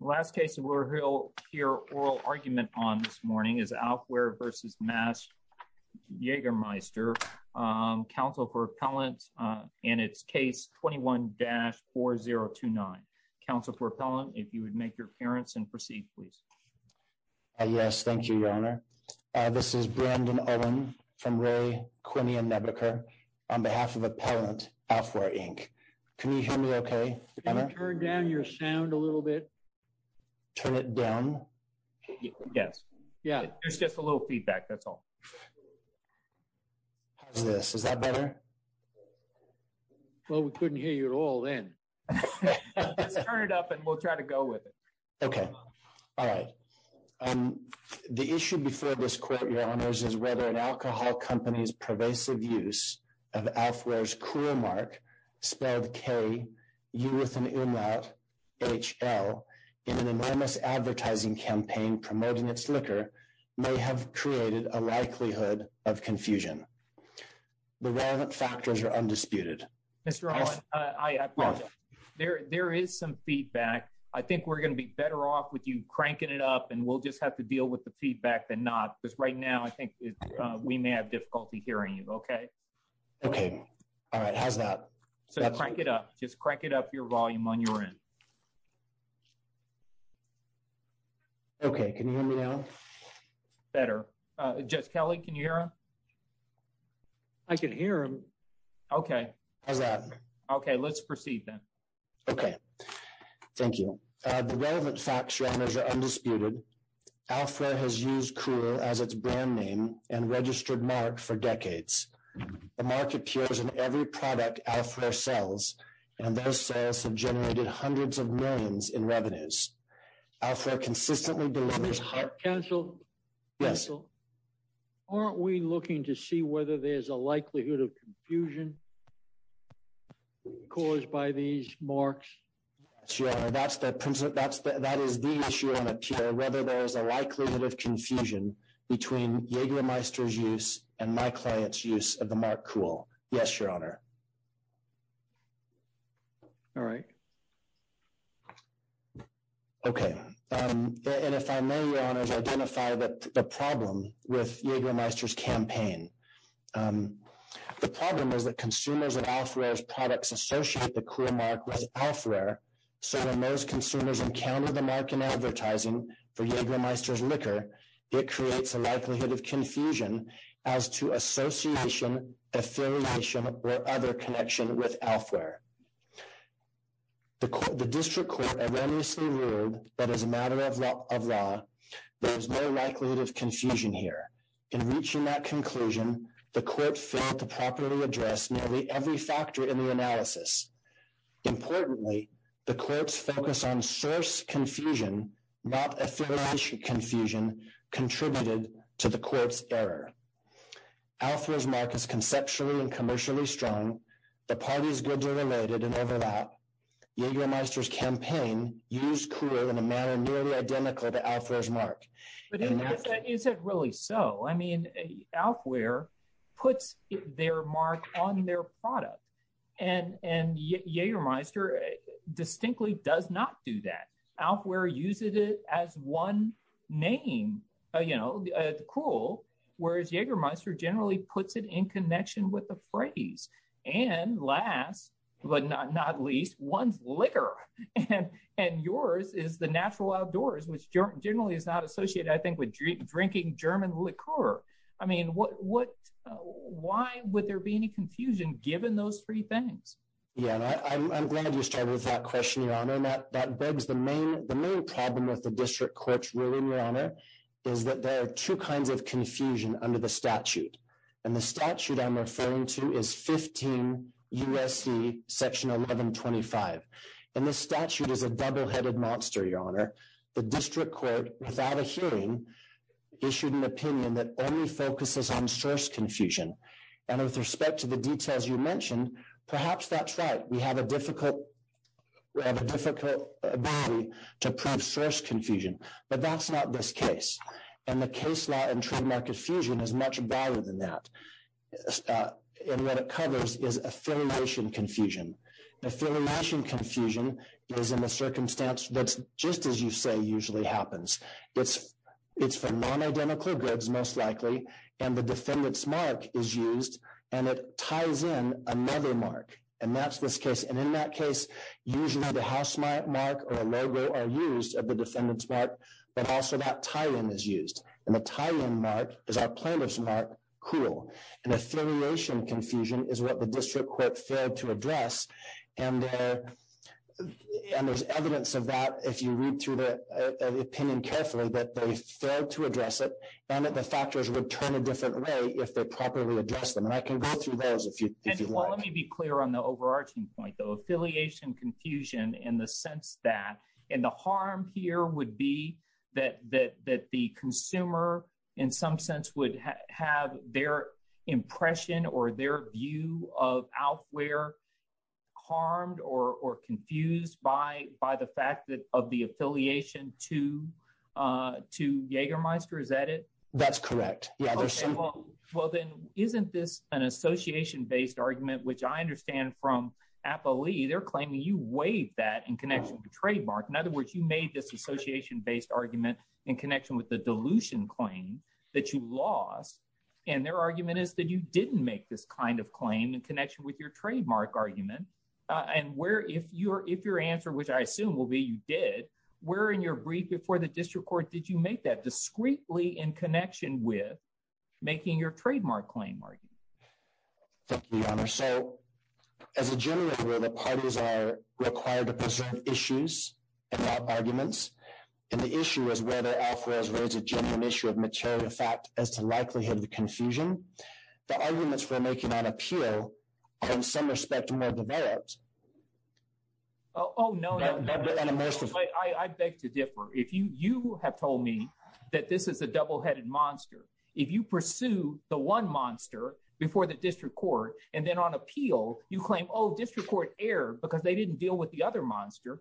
The last case that we'll hear oral argument on this morning is Alfwear v. Mast-Jaegermeister, counsel for appellant, and it's case 21-4029. Counsel for appellant, if you would make your appearance and proceed, please. Yes, thank you, Your Honor. This is Brandon Owen from Ray, Quinney, and Nebuchadnezzar on behalf of Appellant Alfwear, Inc. Can you hear me okay? Can you turn down your sound a little bit? Turn it down? Yes. Yeah, there's just a little feedback, that's all. How's this? Is that better? Well, we couldn't hear you at all then. Let's turn it up and we'll try to go with it. Okay. All right. The issue before this court, Your Honors, is whether an alcohol company's KUHL in an enormous advertising campaign promoting its liquor may have created a likelihood of confusion. The relevant factors are undisputed. Mr. Owen, there is some feedback. I think we're going to be better off with you cranking it up and we'll just have to deal with the feedback than not because right now I think we may have difficulty hearing you, okay? Okay. All right. How's that? So crank it up. Just crank it up your volume on your end. Okay. Can you hear me now? Better. Judge Kelly, can you hear him? I can hear him. Okay. How's that? Okay. Let's proceed then. Okay. Thank you. The relevant facts, Your Honors, are undisputed. Alfwear has used KUHL as its brand name and registered mark for decades. The mark appears in every product Alfwear sells, and those sales have generated hundreds of millions in revenues. Alfwear consistently delivers high- Counsel? Yes. Aren't we looking to see whether there's a likelihood of confusion caused by these marks? Yes, Your Honor. That is the issue I want to clarify. All right. Okay. And if I may, Your Honors, identify the problem with Jagermeister's campaign. The problem is that consumers of Alfwear's products associate the KUHL mark with Alfwear, so when those consumers encounter the mark in advertising for Jagermeister's liquor, it creates a likelihood of confusion as to association, affiliation, or other connection with Alfwear. The district court erroneously ruled that as a matter of law, there is no likelihood of confusion here. In reaching that conclusion, the court failed to properly address nearly every factor in the analysis. Importantly, the court's focus on source confusion, not affiliation confusion, contributed to the court's error. Alfwear's mark is conceptually and commercially strong. The parties' goods are related and overlap. Jagermeister's campaign used KUHL in a manner nearly identical to Alfwear's mark. But is it really so? I mean, Alfwear puts their mark on their product, and Jagermeister distinctly does not do that. Alfwear uses it as one name, you know, KUHL, whereas Jagermeister generally puts it in connection with a phrase. And last but not least, one's liquor. And yours is the natural outdoors, which generally is not associated, I think, with drinking German liqueur. I mean, why would there be any confusion given those three things? Yeah, I'm glad you started with that question, Your Honor. The main problem with the district court's ruling, Your Honor, is that there are two kinds of confusion under the statute. And the statute I'm referring to is 15 U.S.C. section 1125. And this statute is a double-headed monster, Your Honor. The district court, without a hearing, issued an opinion that only focuses on source confusion. And with respect to the details you mentioned, perhaps that's right. We have a difficult ability to prove source confusion. But that's not this case. And the case law and trademark infusion is much broader than that. And what it covers is affiliation confusion. And affiliation confusion is in the circumstance that, just as you say, usually happens. It's for non-identical goods, most likely, and the defendant's mark is used, and it ties in another mark. And that's this case. And in that case, usually the house mark or a logo are used of the defendant's mark, but also that tie-in is used. And the tie-in mark is our plaintiff's mark, cruel. And affiliation confusion is what the district court failed to address. And there's evidence of that, if you read through the opinion carefully, that they failed to address it and that the factors would turn a different way if they properly addressed them. And I can go through those if you want. Let me be clear on the overarching point, though. Affiliation confusion in the sense that, and the harm here would be that the consumer, in some sense, would have their impression or their view of outwear harmed or confused by the fact of the affiliation to Jägermeister. Is that it? That's correct. Yeah. Well, then, isn't this an association-based argument, which I understand from Apolli, they're claiming you weighed that in connection with the trademark. In other words, you made this association-based argument in connection with the dilution claim that you lost. And their argument is that you didn't make this kind of claim in connection with your trademark argument. And where, if your answer, which I assume will be you did, where in your brief before the district court did you make that discreetly in connection with making your trademark claim argument? Thank you, Your Honor. So, as a general rule, parties are required to preserve issues and not arguments. And the issue is whether affiliations raise a genuine issue of material fact as to likelihood of confusion. The arguments we're making on appeal are, in some respect, more developed. Oh, no, no. I beg to differ. You have told me that this is a double-headed monster. If you pursue the one monster before the district court and then on appeal, you claim, oh, district court erred because they didn't deal with the other monster,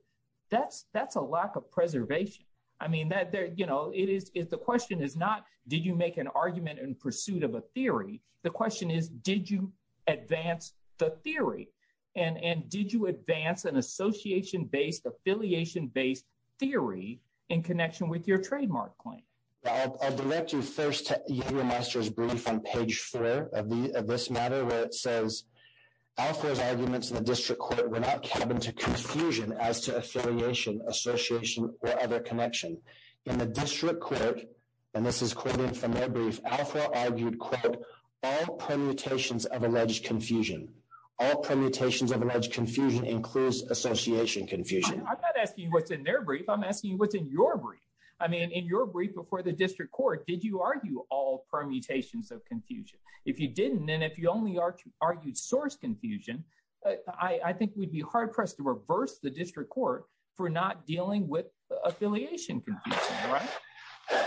that's a lack of preservation. I mean, the question is not, did you make an argument in pursuit of a theory? The question is, did you advance the theory? And did you advance an association-based, affiliation-based theory in connection with your trademark claim? I'll direct you first to Alfre Master's brief on page four of this matter, where it says, Alfre's arguments in the district court were not cabin to confusion as to affiliation, association, or other connection. In the district court, and this is quoted from their brief, Alfre argued, quote, all permutations of alleged confusion. All permutations of alleged confusion includes association confusion. I'm not asking you what's in their brief. I'm asking you what's in your brief. I mean, in your brief before the district court, did you argue all permutations of confusion? If you didn't and if you only argued source confusion, I think we'd be hard-pressed to reverse the district court for not dealing with affiliation confusion, right?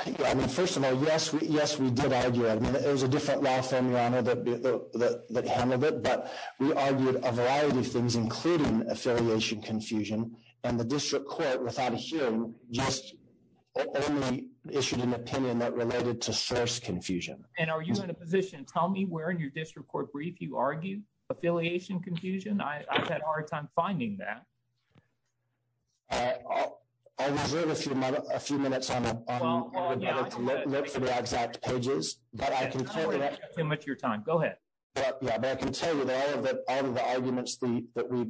Yeah, I mean, first of all, yes, we did argue. I mean, it was a different law firm, Your Honor, that handled it, but we argued a variety of things, including affiliation confusion. And the district court, without a hearing, just only issued an opinion that related to source confusion. And are you in a position, tell me where in your district court brief you argued affiliation confusion? I've had a hard time finding that. I'll reserve a few minutes to look for the exact pages, but I can tell you that all of the arguments that we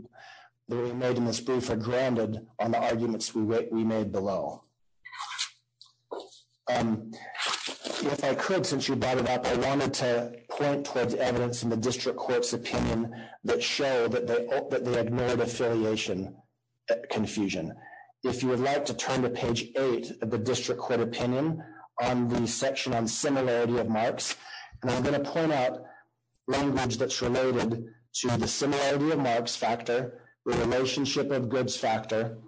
made in this brief are grounded on the arguments we made below. If I could, since you brought it up, I wanted to point towards evidence in the district court's opinion that showed that they ignored affiliation confusion. If you would like to turn to page eight of the district court opinion on the section on similarity of marks, and I'm going to point out language that's related to the similarity of marks factor, relationship of goods factor,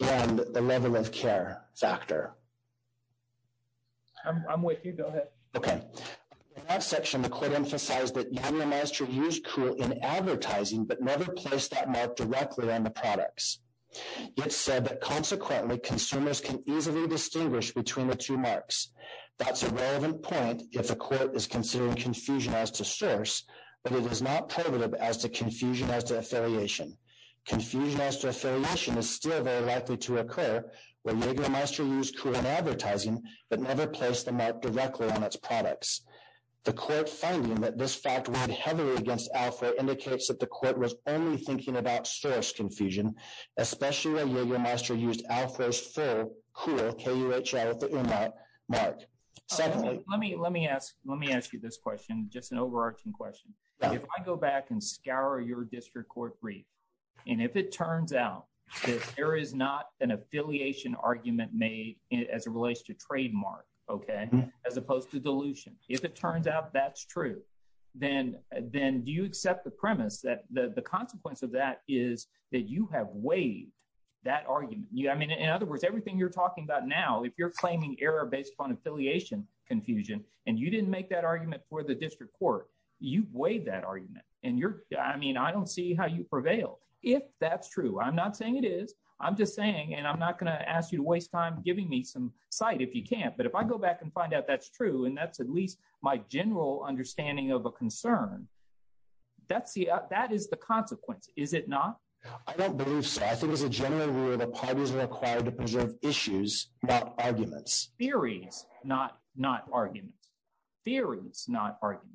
and the level of care factor. I'm with you. Go ahead. Okay. In that section, the court emphasized that Young and Master used cool in advertising but never placed that mark directly on the products. It said that consequently, consumers can easily distinguish between the two marks. That's a relevant point if a court is considering confusion as to source, but it is not prohibitive as to confusion as to affiliation. Confusion as to affiliation is still very likely to occur when Young and Master used cool in advertising, but never placed the mark directly on its products. The court finding that this fact weighed heavily against Alpha indicates that the court was only thinking about source confusion, especially when Young and Master used Alpha's full cool, K-U-H-R, at the earmark mark. Let me ask you this question, just an overarching question. If I go back and scour your district court brief, and if it turns out that there is not an affiliation argument made as it relates to trademark as opposed to dilution, if it turns out that's true, then do you accept the premise that the consequence of that is that you have weighed that argument? In other words, everything you're talking about now, if you're claiming error based upon affiliation confusion, and you didn't make that argument for the district court, you've weighed that argument. I don't see how you prevail. If that's true, I'm not saying it is. I'm just saying, and I'm not going to ask you to waste time giving me some sight if you can't. But if I go back and find out that's true, and that's at least my general understanding of a concern, that is the consequence, is it not? I don't believe so. I think it's a general rule that parties are required to preserve issues, not arguments. Theories, not arguments. Theories, not arguments.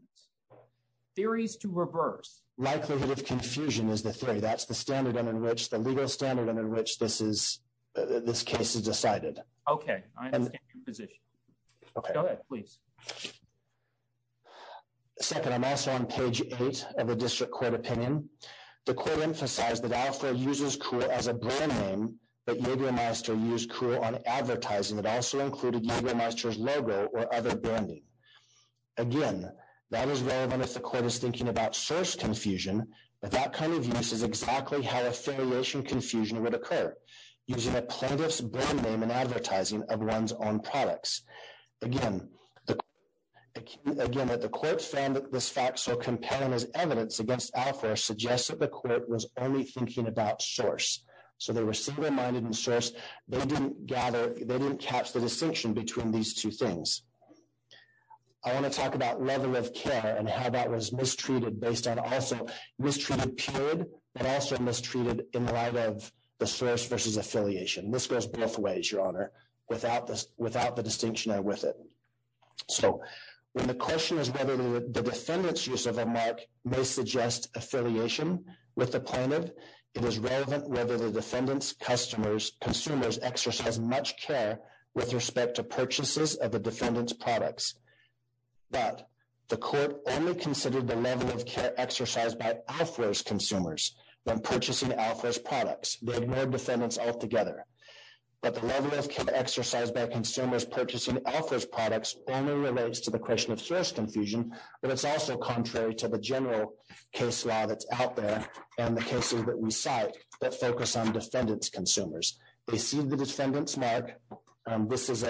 Theories to reverse. Likelihood of confusion is the theory. That's the standard and in which the legal standard and in which this case is decided. Okay, I understand your position. Go ahead, please. Second, I'm also on page eight of the district court opinion. The court emphasized that Alfred uses Kuhl as a brand name, but Yadier Meister used Kuhl on advertising that also included Yadier Meister's logo or other branding. Again, that is relevant if the court is thinking about source confusion, but that kind of use is exactly how affiliation confusion would occur, using a plaintiff's brand name and advertising of one's own products. Again, that the court found this fact so compelling as evidence against Alfred suggests that the court was only thinking about source. So they were single-minded in source. They didn't gather, they didn't catch the distinction between these two things. I want to talk about level of care and how that was mistreated based on also mistreated period, but also mistreated in light of the source versus affiliation. This goes both ways, Your Honor, without the distinction there with it. So when the question is whether the defendant's use of a mark may suggest affiliation with the plaintiff, it is relevant whether the defendant's consumers exercise much care with respect to purchases of the defendant's products. But the court only considered the level of care exercised by Alfred's consumers when purchasing Alfred's products. They ignored defendants altogether. But the level of care exercised by consumers purchasing Alfred's products only relates to the question of source confusion, but it's also contrary to the general case law that's out there and the cases that we cite that focus on defendant's consumers. They see the defendant's mark. This is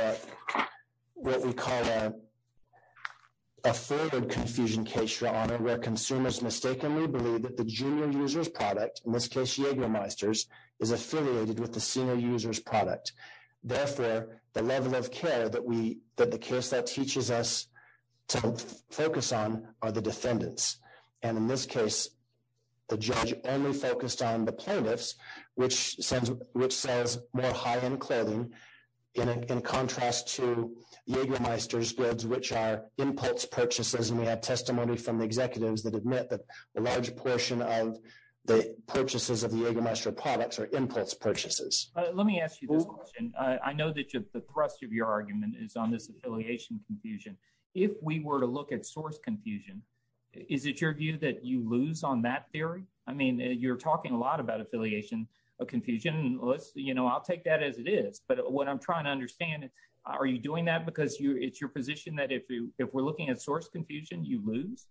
what we call a forward confusion case, Your Honor, where consumers mistakenly believe that the junior user's product, in this case, Jagermeister's, is affiliated with the senior user's product. Therefore, the level of care that the case that teaches us to focus on are the defendants. And in this case, the judge only focused on the plaintiffs, which says more high-end clothing in contrast to Jagermeister's goods, which are impulse purchases. And we have testimony from the executives that admit that a large portion of the purchases of the Jagermeister products are impulse purchases. Let me ask you this question. I know that the thrust of your argument is on this affiliation confusion. If we were to look at source confusion, is it your view that you lose on that theory? I mean, you're talking a lot about affiliation confusion. I'll take that as it is. But what I'm trying to understand, are you doing that because it's your position that if we're looking at source confusion, you lose?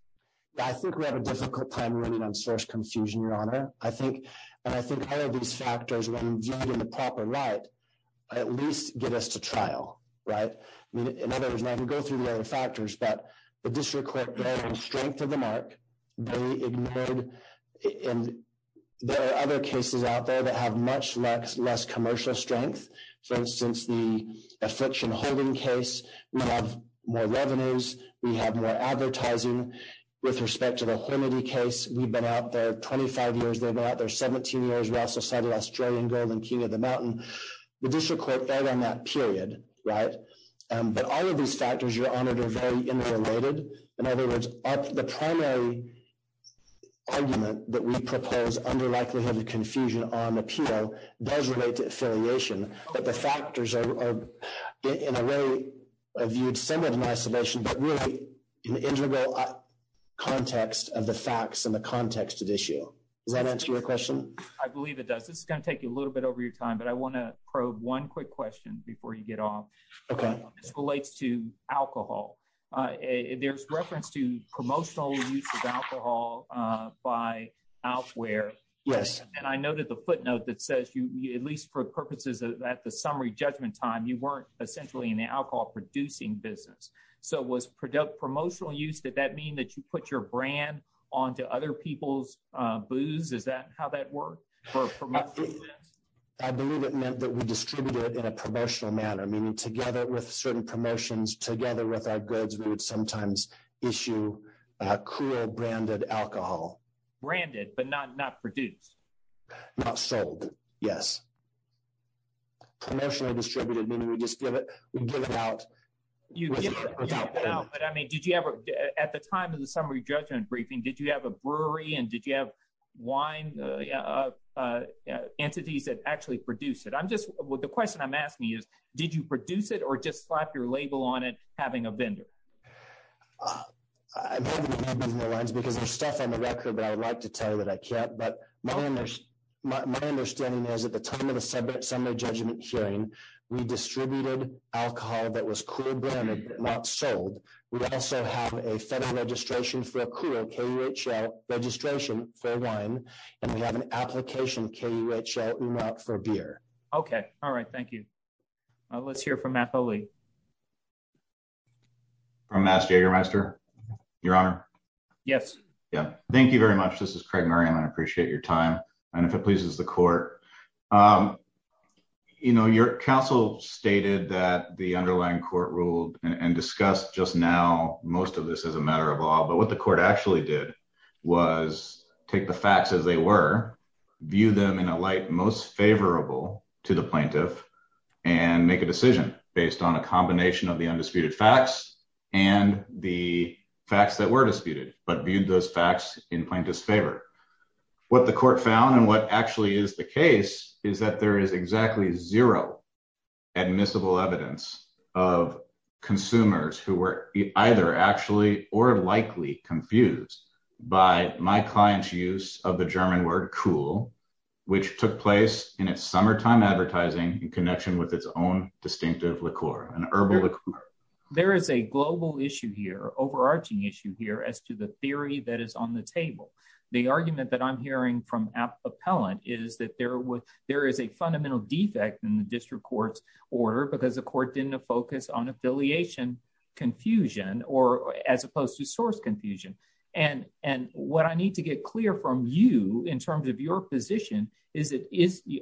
I think we have a difficult time on source confusion, Your Honor. And I think all of these factors, when viewed in the proper light, at least get us to trial, right? In other words, I can go through the other factors, but the district court bearing strength of the mark, they ignored. And there are other cases out there that have much less commercial strength. For instance, the affliction holding case, we have more revenues. We have more advertising. With respect to the Hennedy case, we've been out there 25 years. They've been out there 17 years. We also cited Australian gold and king of the mountain. The district court fell on that period, right? But all of these factors, Your Honor, are very interrelated. In other words, the primary argument that we propose under likelihood of confusion on similar to my solution, but really in the integral context of the facts and the context of the issue. Does that answer your question? I believe it does. This is going to take a little bit over your time, but I want to probe one quick question before you get off. Okay. This relates to alcohol. There's reference to promotional use of alcohol by outwear. Yes. And I noted the footnote that says you, at least for purposes of that, the summary judgment time, you weren't essentially in the alcohol producing business. So was promotional use, did that mean that you put your brand onto other people's booze? Is that how that worked? I believe it meant that we distributed in a promotional manner, meaning together with certain promotions, together with our goods, we would sometimes issue a cruel branded alcohol. Branded, but not produced? Not sold. Yes. Promotionally distributed, meaning we just give it, we give it out. But I mean, did you ever, at the time of the summary judgment briefing, did you have a brewery and did you have wine entities that actually produce it? I'm just, the question I'm asking you is, did you produce it or just slap your label on it, having a vendor? I'm hoping I'm not moving the lines because there's stuff on the record that I would like to hear. We distributed alcohol that was cruel branded, but not sold. We also have a federal registration for a cruel KUHL registration for wine, and we have an application KUHL for beer. Okay. All right. Thank you. Let's hear from Matt Foley. From Matt Jagermeister, Your Honor. Yes. Yeah. Thank you very much. This is Craig Murray, and I appreciate your time, if it pleases the court. Your counsel stated that the underlying court ruled and discussed just now most of this as a matter of law, but what the court actually did was take the facts as they were, view them in a light most favorable to the plaintiff and make a decision based on a combination of the undisputed facts and the facts that were disputed, but viewed those facts in plaintiff's favor. What the court found and what actually is the case is that there is exactly zero admissible evidence of consumers who were either actually or likely confused by my client's use of the German word KUHL, which took place in its summertime advertising in connection with its own distinctive liqueur, an herbal liqueur. There is a global issue here, overarching issue here, as to the argument that I'm hearing from appellant is that there is a fundamental defect in the district court's order because the court didn't focus on affiliation confusion or as opposed to source confusion. And what I need to get clear from you in terms of your position is that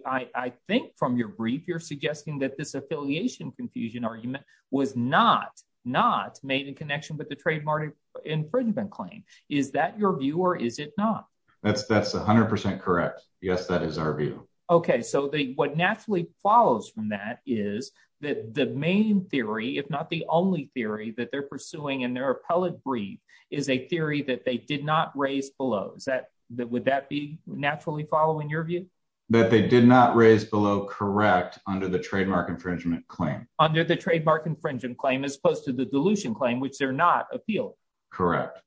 I think from your brief, you're suggesting that this affiliation confusion argument was not, not made in connection with the trademark infringement claim. Is that your view or is it not? That's, that's 100% correct. Yes, that is our view. Okay. So the, what naturally follows from that is that the main theory, if not the only theory that they're pursuing in their appellate brief is a theory that they did not raise below. Is that, would that be naturally following your view? That they did not raise below correct under the trademark infringement claim. Under the trademark infringement claim, as opposed to the dilution claim, which they're not appealing. Correct.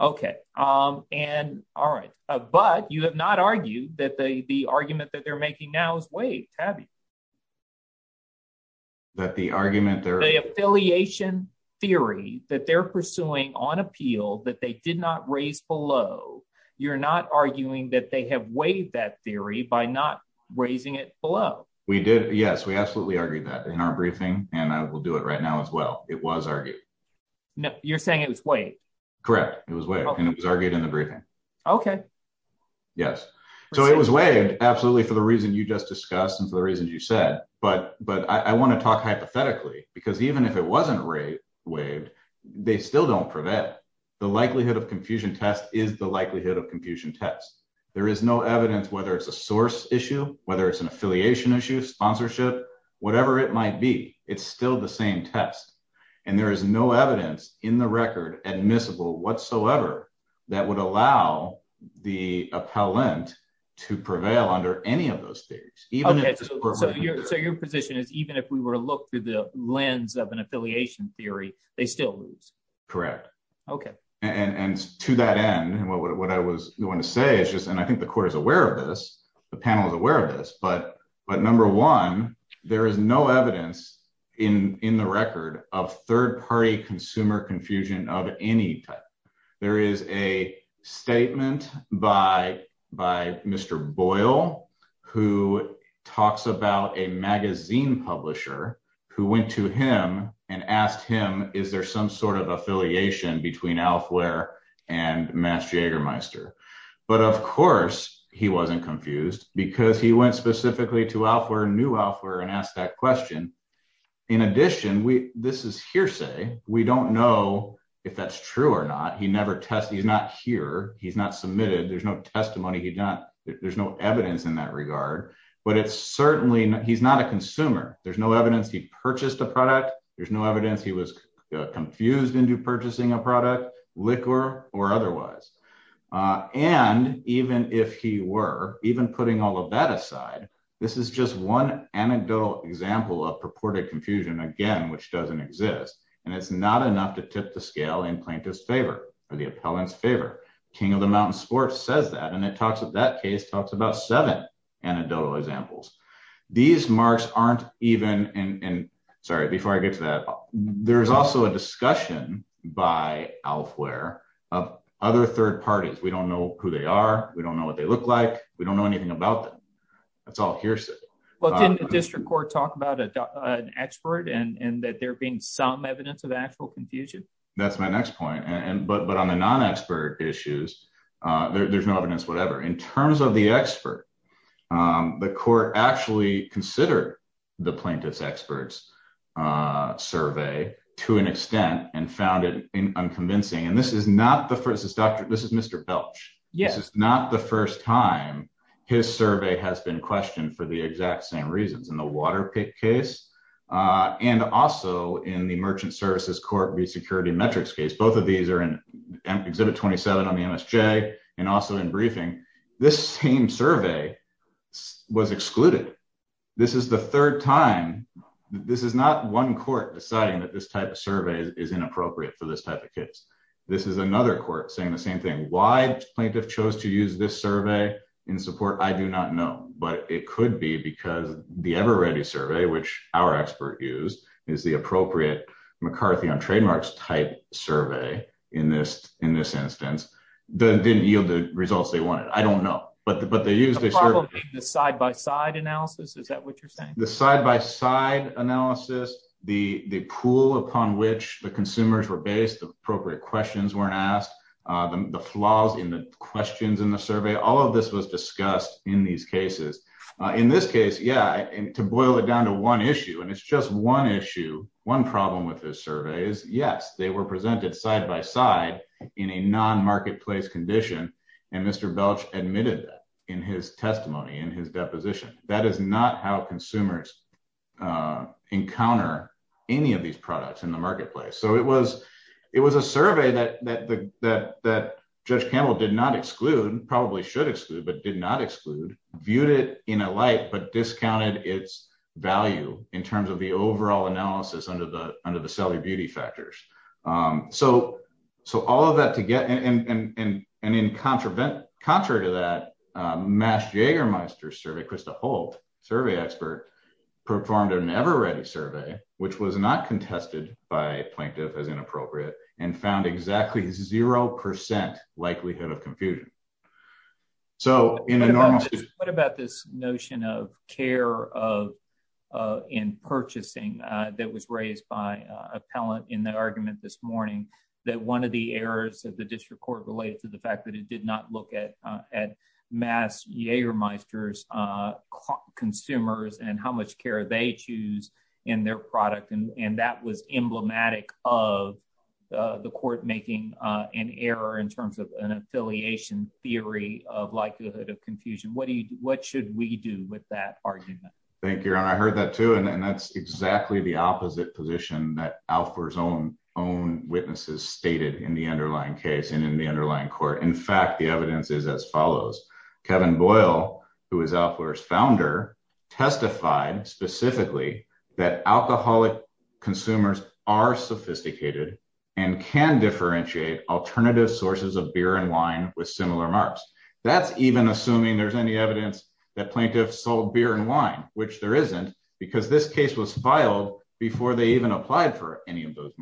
Okay. And all right. But you have not argued that the, the argument that they're making now is waived, have you? That the argument, the affiliation theory that they're pursuing on appeal, that they did not raise below. You're not arguing that they have waived that theory by not raising it below. We did. Yes, we absolutely argued that in our briefing and I will do it right now as well. It was argued. No, you're saying it was waived. Correct. It was waived and it was argued in the briefing. Okay. Yes. So it was waived absolutely for the reason you just discussed and for the reasons you said, but, but I want to talk hypothetically because even if it wasn't waived, they still don't prevent it. The likelihood of confusion test is the likelihood of confusion test. There is no evidence, whether it's a source issue, whether it's an affiliation issue, sponsorship, whatever it might be, it's still the same test. And there is no evidence in the record admissible whatsoever that would allow the appellant to prevail under any of those theories. So your position is even if we were to look through the lens of an affiliation theory, they still lose. Correct. Okay. And, and to that end, what I was going to say is just, and I think the court is aware of this, the panel is aware of this, but, but number one, there is no evidence in, in the record of third-party consumer confusion of any type. There is a statement by, by Mr. Boyle, who talks about a magazine publisher who went to him and asked him, is there some sort of affiliation between Alfaware and Mass Jägermeister? But of course he wasn't confused because he went specifically to Alfaware, new Alfaware and asked that question. In addition, we, this is hearsay. We don't know if that's true or not. He never tested. He's not here. He's not submitted. There's no testimony. He's not, there's no evidence in that regard, but it's certainly, he's not a consumer. There's no evidence he was confused into purchasing a product, liquor or otherwise. And even if he were, even putting all of that aside, this is just one anecdotal example of purported confusion, again, which doesn't exist. And it's not enough to tip the scale in plaintiff's favor or the appellant's favor. King of the Mountain Sports says that, and it talks, that case talks about seven anecdotal examples. These marks aren't even in, sorry, before I get to that, there's also a discussion by Alfaware of other third parties. We don't know who they are. We don't know what they look like. We don't know anything about them. That's all hearsay. Well, didn't the district court talk about an expert and that there being some evidence of actual confusion? That's my next point. And, but, but on the non-expert issues, there's no evidence, whatever. In terms of the expert, the court actually considered the plaintiff's experts survey to an extent and found it unconvincing. And this is not the first, this is doctor, this is Mr. Belch. This is not the first time his survey has been questioned for the exact same reasons in the Waterpik case. And also in the Merchant Services Court v. Security Metrics case. Both of these are in Exhibit 27 on the MSJ and also in briefing. This same survey was excluded. This is the third time. This is not one court deciding that this type of survey is inappropriate for this type of case. This is another court saying the same thing. Why plaintiff chose to use this survey in support? I do not know, but it could be because the EverReady survey, which our expert used, is the appropriate McCarthy on trademarks type survey in this, in this instance, didn't yield the results they wanted. I don't know, but, but they used the side-by-side analysis. Is that what you're saying? The side-by-side analysis, the, the pool upon which the consumers were based, the appropriate questions weren't asked, the flaws in the questions in the survey, all of this was discussed in these cases. In this case, yeah. And to boil it down to one issue, and it's just one issue, one problem with this survey is yes, they were presented side-by-side in a non-marketplace condition. And Mr. Belch admitted that in his testimony, in his deposition. That is not how consumers encounter any of these products in the marketplace. So it was, it was a survey that, that, that, Judge Campbell did not exclude, probably should exclude, but did not exclude, viewed it in a light, but discounted its value in terms of the overall analysis under the, under the cellular beauty factors. So, so all of that to get, and, and, and, and, and in contravent, contrary to that, MASH Jagermeister's survey, Krista Holt, survey expert, performed an EverReady survey, which was not contested by plaintiff as inappropriate and found exactly 0% likelihood of confusion. So in a normal- What about this notion of care of, in purchasing that was raised by appellant in the argument this morning, that one of the errors of the district court related to the fact that it did not look at, at MASH Jagermeister's consumers and how much care they choose in their product. And, and that was emblematic of the court making an error in terms of an affiliation theory of likelihood of confusion. What do you, what should we do with that argument? Thank you. And I heard that too. And that's exactly the opposite position that Alfler's own, own witnesses stated in the underlying case and in the underlying court. In fact, the evidence is as follows. Kevin Boyle, who is Alfler's founder, testified specifically that alcoholic consumers are sophisticated and can differentiate alternative sources of beer and wine with similar marks. That's even assuming there's any evidence that plaintiffs sold beer and wine, which there isn't because this case was filed before they even applied for any of those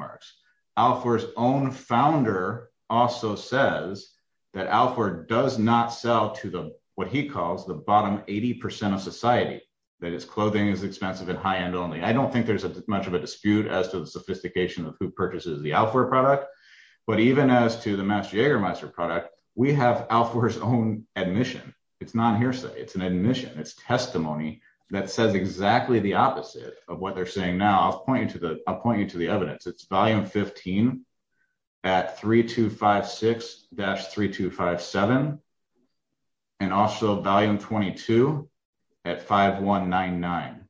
Alfler's own founder also says that Alfler does not sell to the, what he calls the bottom 80% of society. That is clothing is expensive and high-end only. I don't think there's much of a dispute as to the sophistication of who purchases the Alfler product, but even as to the MASH Jagermeister product, we have Alfler's own admission. It's not hearsay. It's an admission. It's testimony that says exactly the opposite of what they're saying now. I'll point you to the, I'll point you to the evidence. It's volume 15 at 3256-3257 and also volume 22 at 5199.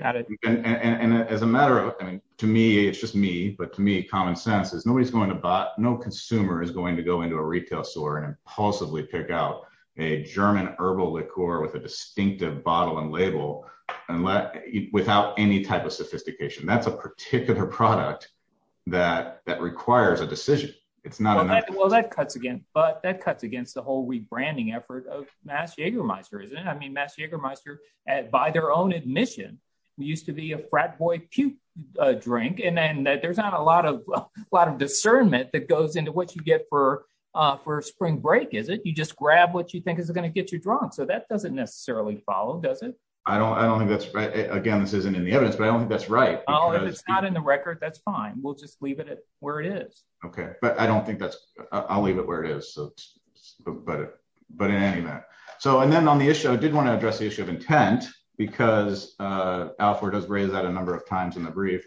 Got it. And as a matter of, I mean, to me, it's just me, but to me, common sense is nobody's going to buy, no consumer is going to go into a retail store and impulsively pick out a German herbal liqueur with a distinctive bottle and label and let, without any type of sophistication. That's a particular product that, that requires a decision. It's not, well, that cuts again, but that cuts against the whole rebranding effort of MASH Jagermeister, isn't it? I mean, MASH Jagermeister at, by their own admission, we used to be a frat boy puke drink. And then there's not a lot of, a lot of discernment that goes into what you get for, for spring break. You just grab what you think is going to get you drunk. So that doesn't necessarily follow, does it? I don't, I don't think that's right. Again, this isn't in the evidence, but I don't think that's right. Well, if it's not in the record, that's fine. We'll just leave it where it is. Okay. But I don't think that's, I'll leave it where it is. So, but, but in any manner. So, and then on the issue, I did want to address the issue of intent because Alford has raised that a number of times in the brief.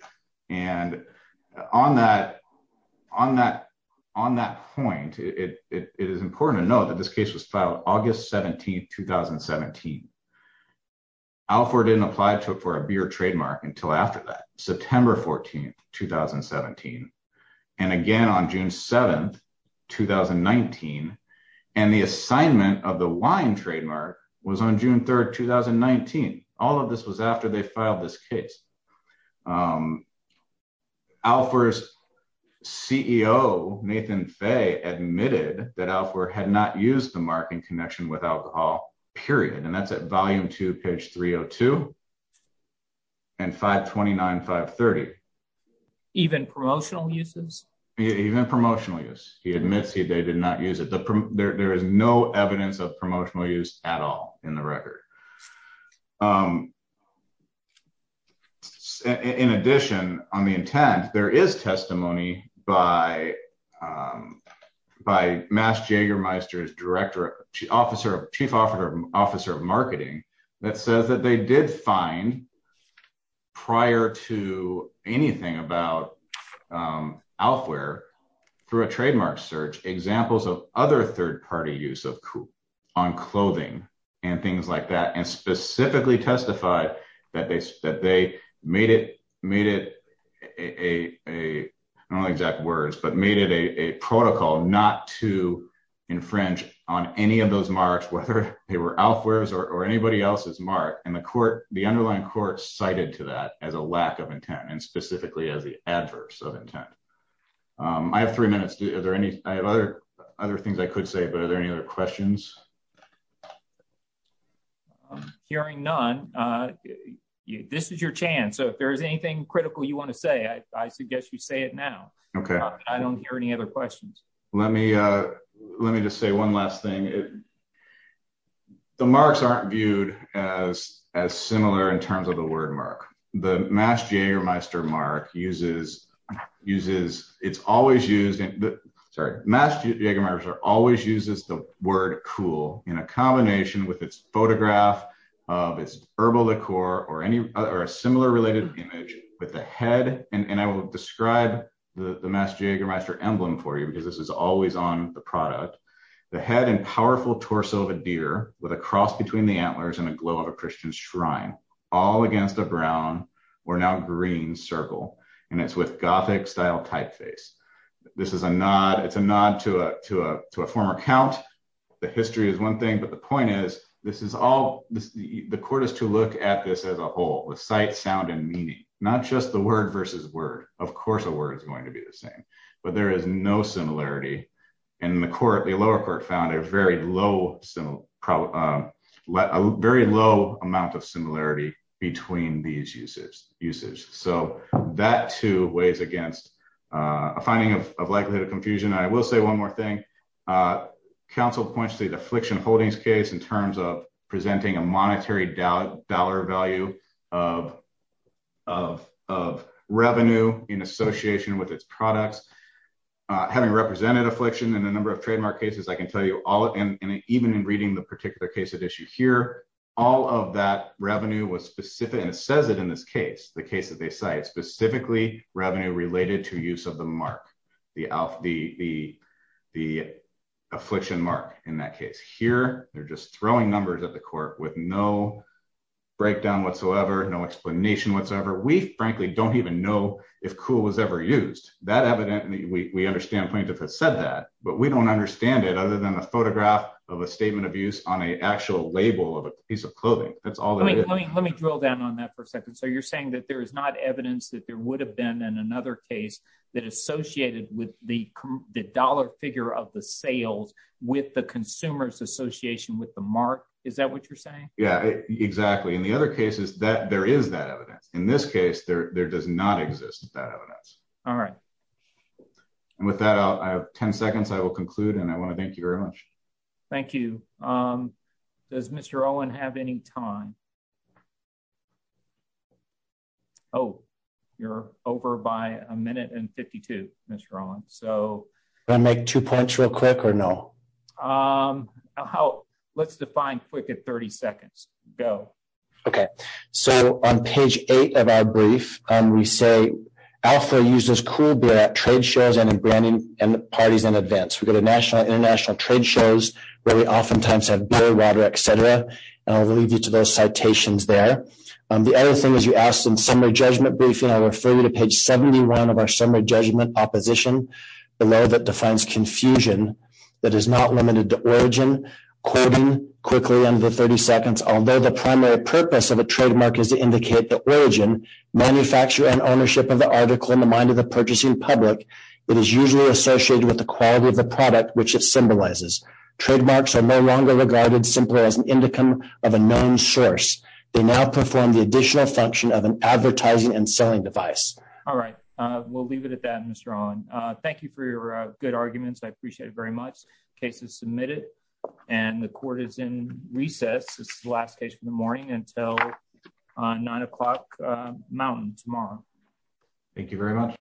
And on that, on that, on that point, it is important to note that this case was filed August 17th, 2017. Alford didn't apply to it for a beer trademark until after that, September 14th, 2017. And again, on June 7th, 2019, and the assignment of the wine trademark was on June 3rd, 2019. All of this was after they filed this case. Alford's CEO, Nathan Fay admitted that Alford had not used the mark in connection with alcohol, period. And that's at volume two, page 302 and 529, 530. Even promotional uses? Even promotional use. He admits he did not use it. There is no evidence of promotional use at all in the record. In addition, on the intent, there is testimony by, by Mass Jägermeister's director, officer, chief officer of marketing that says that they did find prior to anything about Alfwear, through a trademark search, examples of other third-party use of on clothing and things like that, and specifically testified that they, that they made it, made it a, a, I don't know the exact words, but made it a protocol not to infringe on any of those marks, whether they were Alfwear's or anybody else's mark. And the court, the underlying court cited to that as a lack of intent and specifically as the adverse of intent. I have three minutes. I have other, other things I could say, but are there any other questions? Hearing none, this is your chance. So if there's anything critical you want to say, I suggest you say it now. Okay. I don't hear any other questions. Let me, let me just say one last thing. The marks aren't viewed as, as similar in terms of the word mark. The Mass Jägermeister mark uses, uses, it's always used in the, sorry, Mass Jägermeister always uses the word cool in a combination with its photograph of its herbal liqueur or any, or a similar related image with the head. And I will describe the Mass Jägermeister emblem for you, because this is always on the product. The head and powerful torso of a deer with a cross between the antlers and a glow of a Christian shrine, all against a brown or now green circle. And it's with Gothic style typeface. This is a nod. It's a nod to a, to a, to a former count. The history is one thing, but the point is this is all, the court is to look at this as a whole with sight, sound, and meaning, not just the word versus word. Of course, a word is going to be the same, but there is no similarity. And the court, the lower court found a very low, similar, a very low amount of similarity between these uses, usage. So that too weighs against a finding of likelihood of confusion. I will say one more thing. Council points to the of, of revenue in association with its products, having represented affliction in a number of trademark cases, I can tell you all, and even in reading the particular case at issue here, all of that revenue was specific. And it says it in this case, the case that they cite specifically revenue related to use of the mark, the, the, the, the affliction mark in that case here, they're just throwing numbers at the court with no breakdown whatsoever. No explanation whatsoever. We frankly don't even know if cool was ever used that evidently we understand plaintiff has said that, but we don't understand it other than a photograph of a statement of use on a actual label of a piece of clothing. That's all. Let me, let me, let me drill down on that for a second. So you're saying that there is not evidence that there would have been in another case that associated with the, the dollar figure of the sales with the consumers association with the mark. Is that what you're saying? Yeah, exactly. And the other case is that there is that evidence in this case there, there does not exist that evidence. All right. And with that, I have 10 seconds. I will conclude. And I want to thank you very much. Thank you. Does Mr. Owen have any time? Oh, you're over by a minute and 52, Mr. Rowland. So I make two points real quick or no, um, how let's define quick at 30 seconds. Go. Okay. So on page eight of our brief, um, we say alpha uses cool beer at trade shows and in branding and parties in advance. We've got a national international trade shows where we oftentimes have beer, water, et cetera. I'll leave you to those citations there. Um, the other thing is you asked in summer judgment briefing, I refer you to page 71 of our summer judgment opposition below that defines confusion that is not limited to origin quickly under 30 seconds. Although the primary purpose of a trademark is to indicate the origin manufacturer and ownership of the article in the mind of the purchasing public, it is usually associated with the quality of the product, which it symbolizes trademarks are no longer regarded simply as an indicum of a known source. They now perform the additional function of an advertising and selling device. All right. Uh, we'll leave it at that, Mr. Ron. Uh, thank you for your good arguments. I appreciate it very much cases submitted and the court is in recess. This is the last case for the morning until nine o'clock mountain tomorrow. Thank you very much.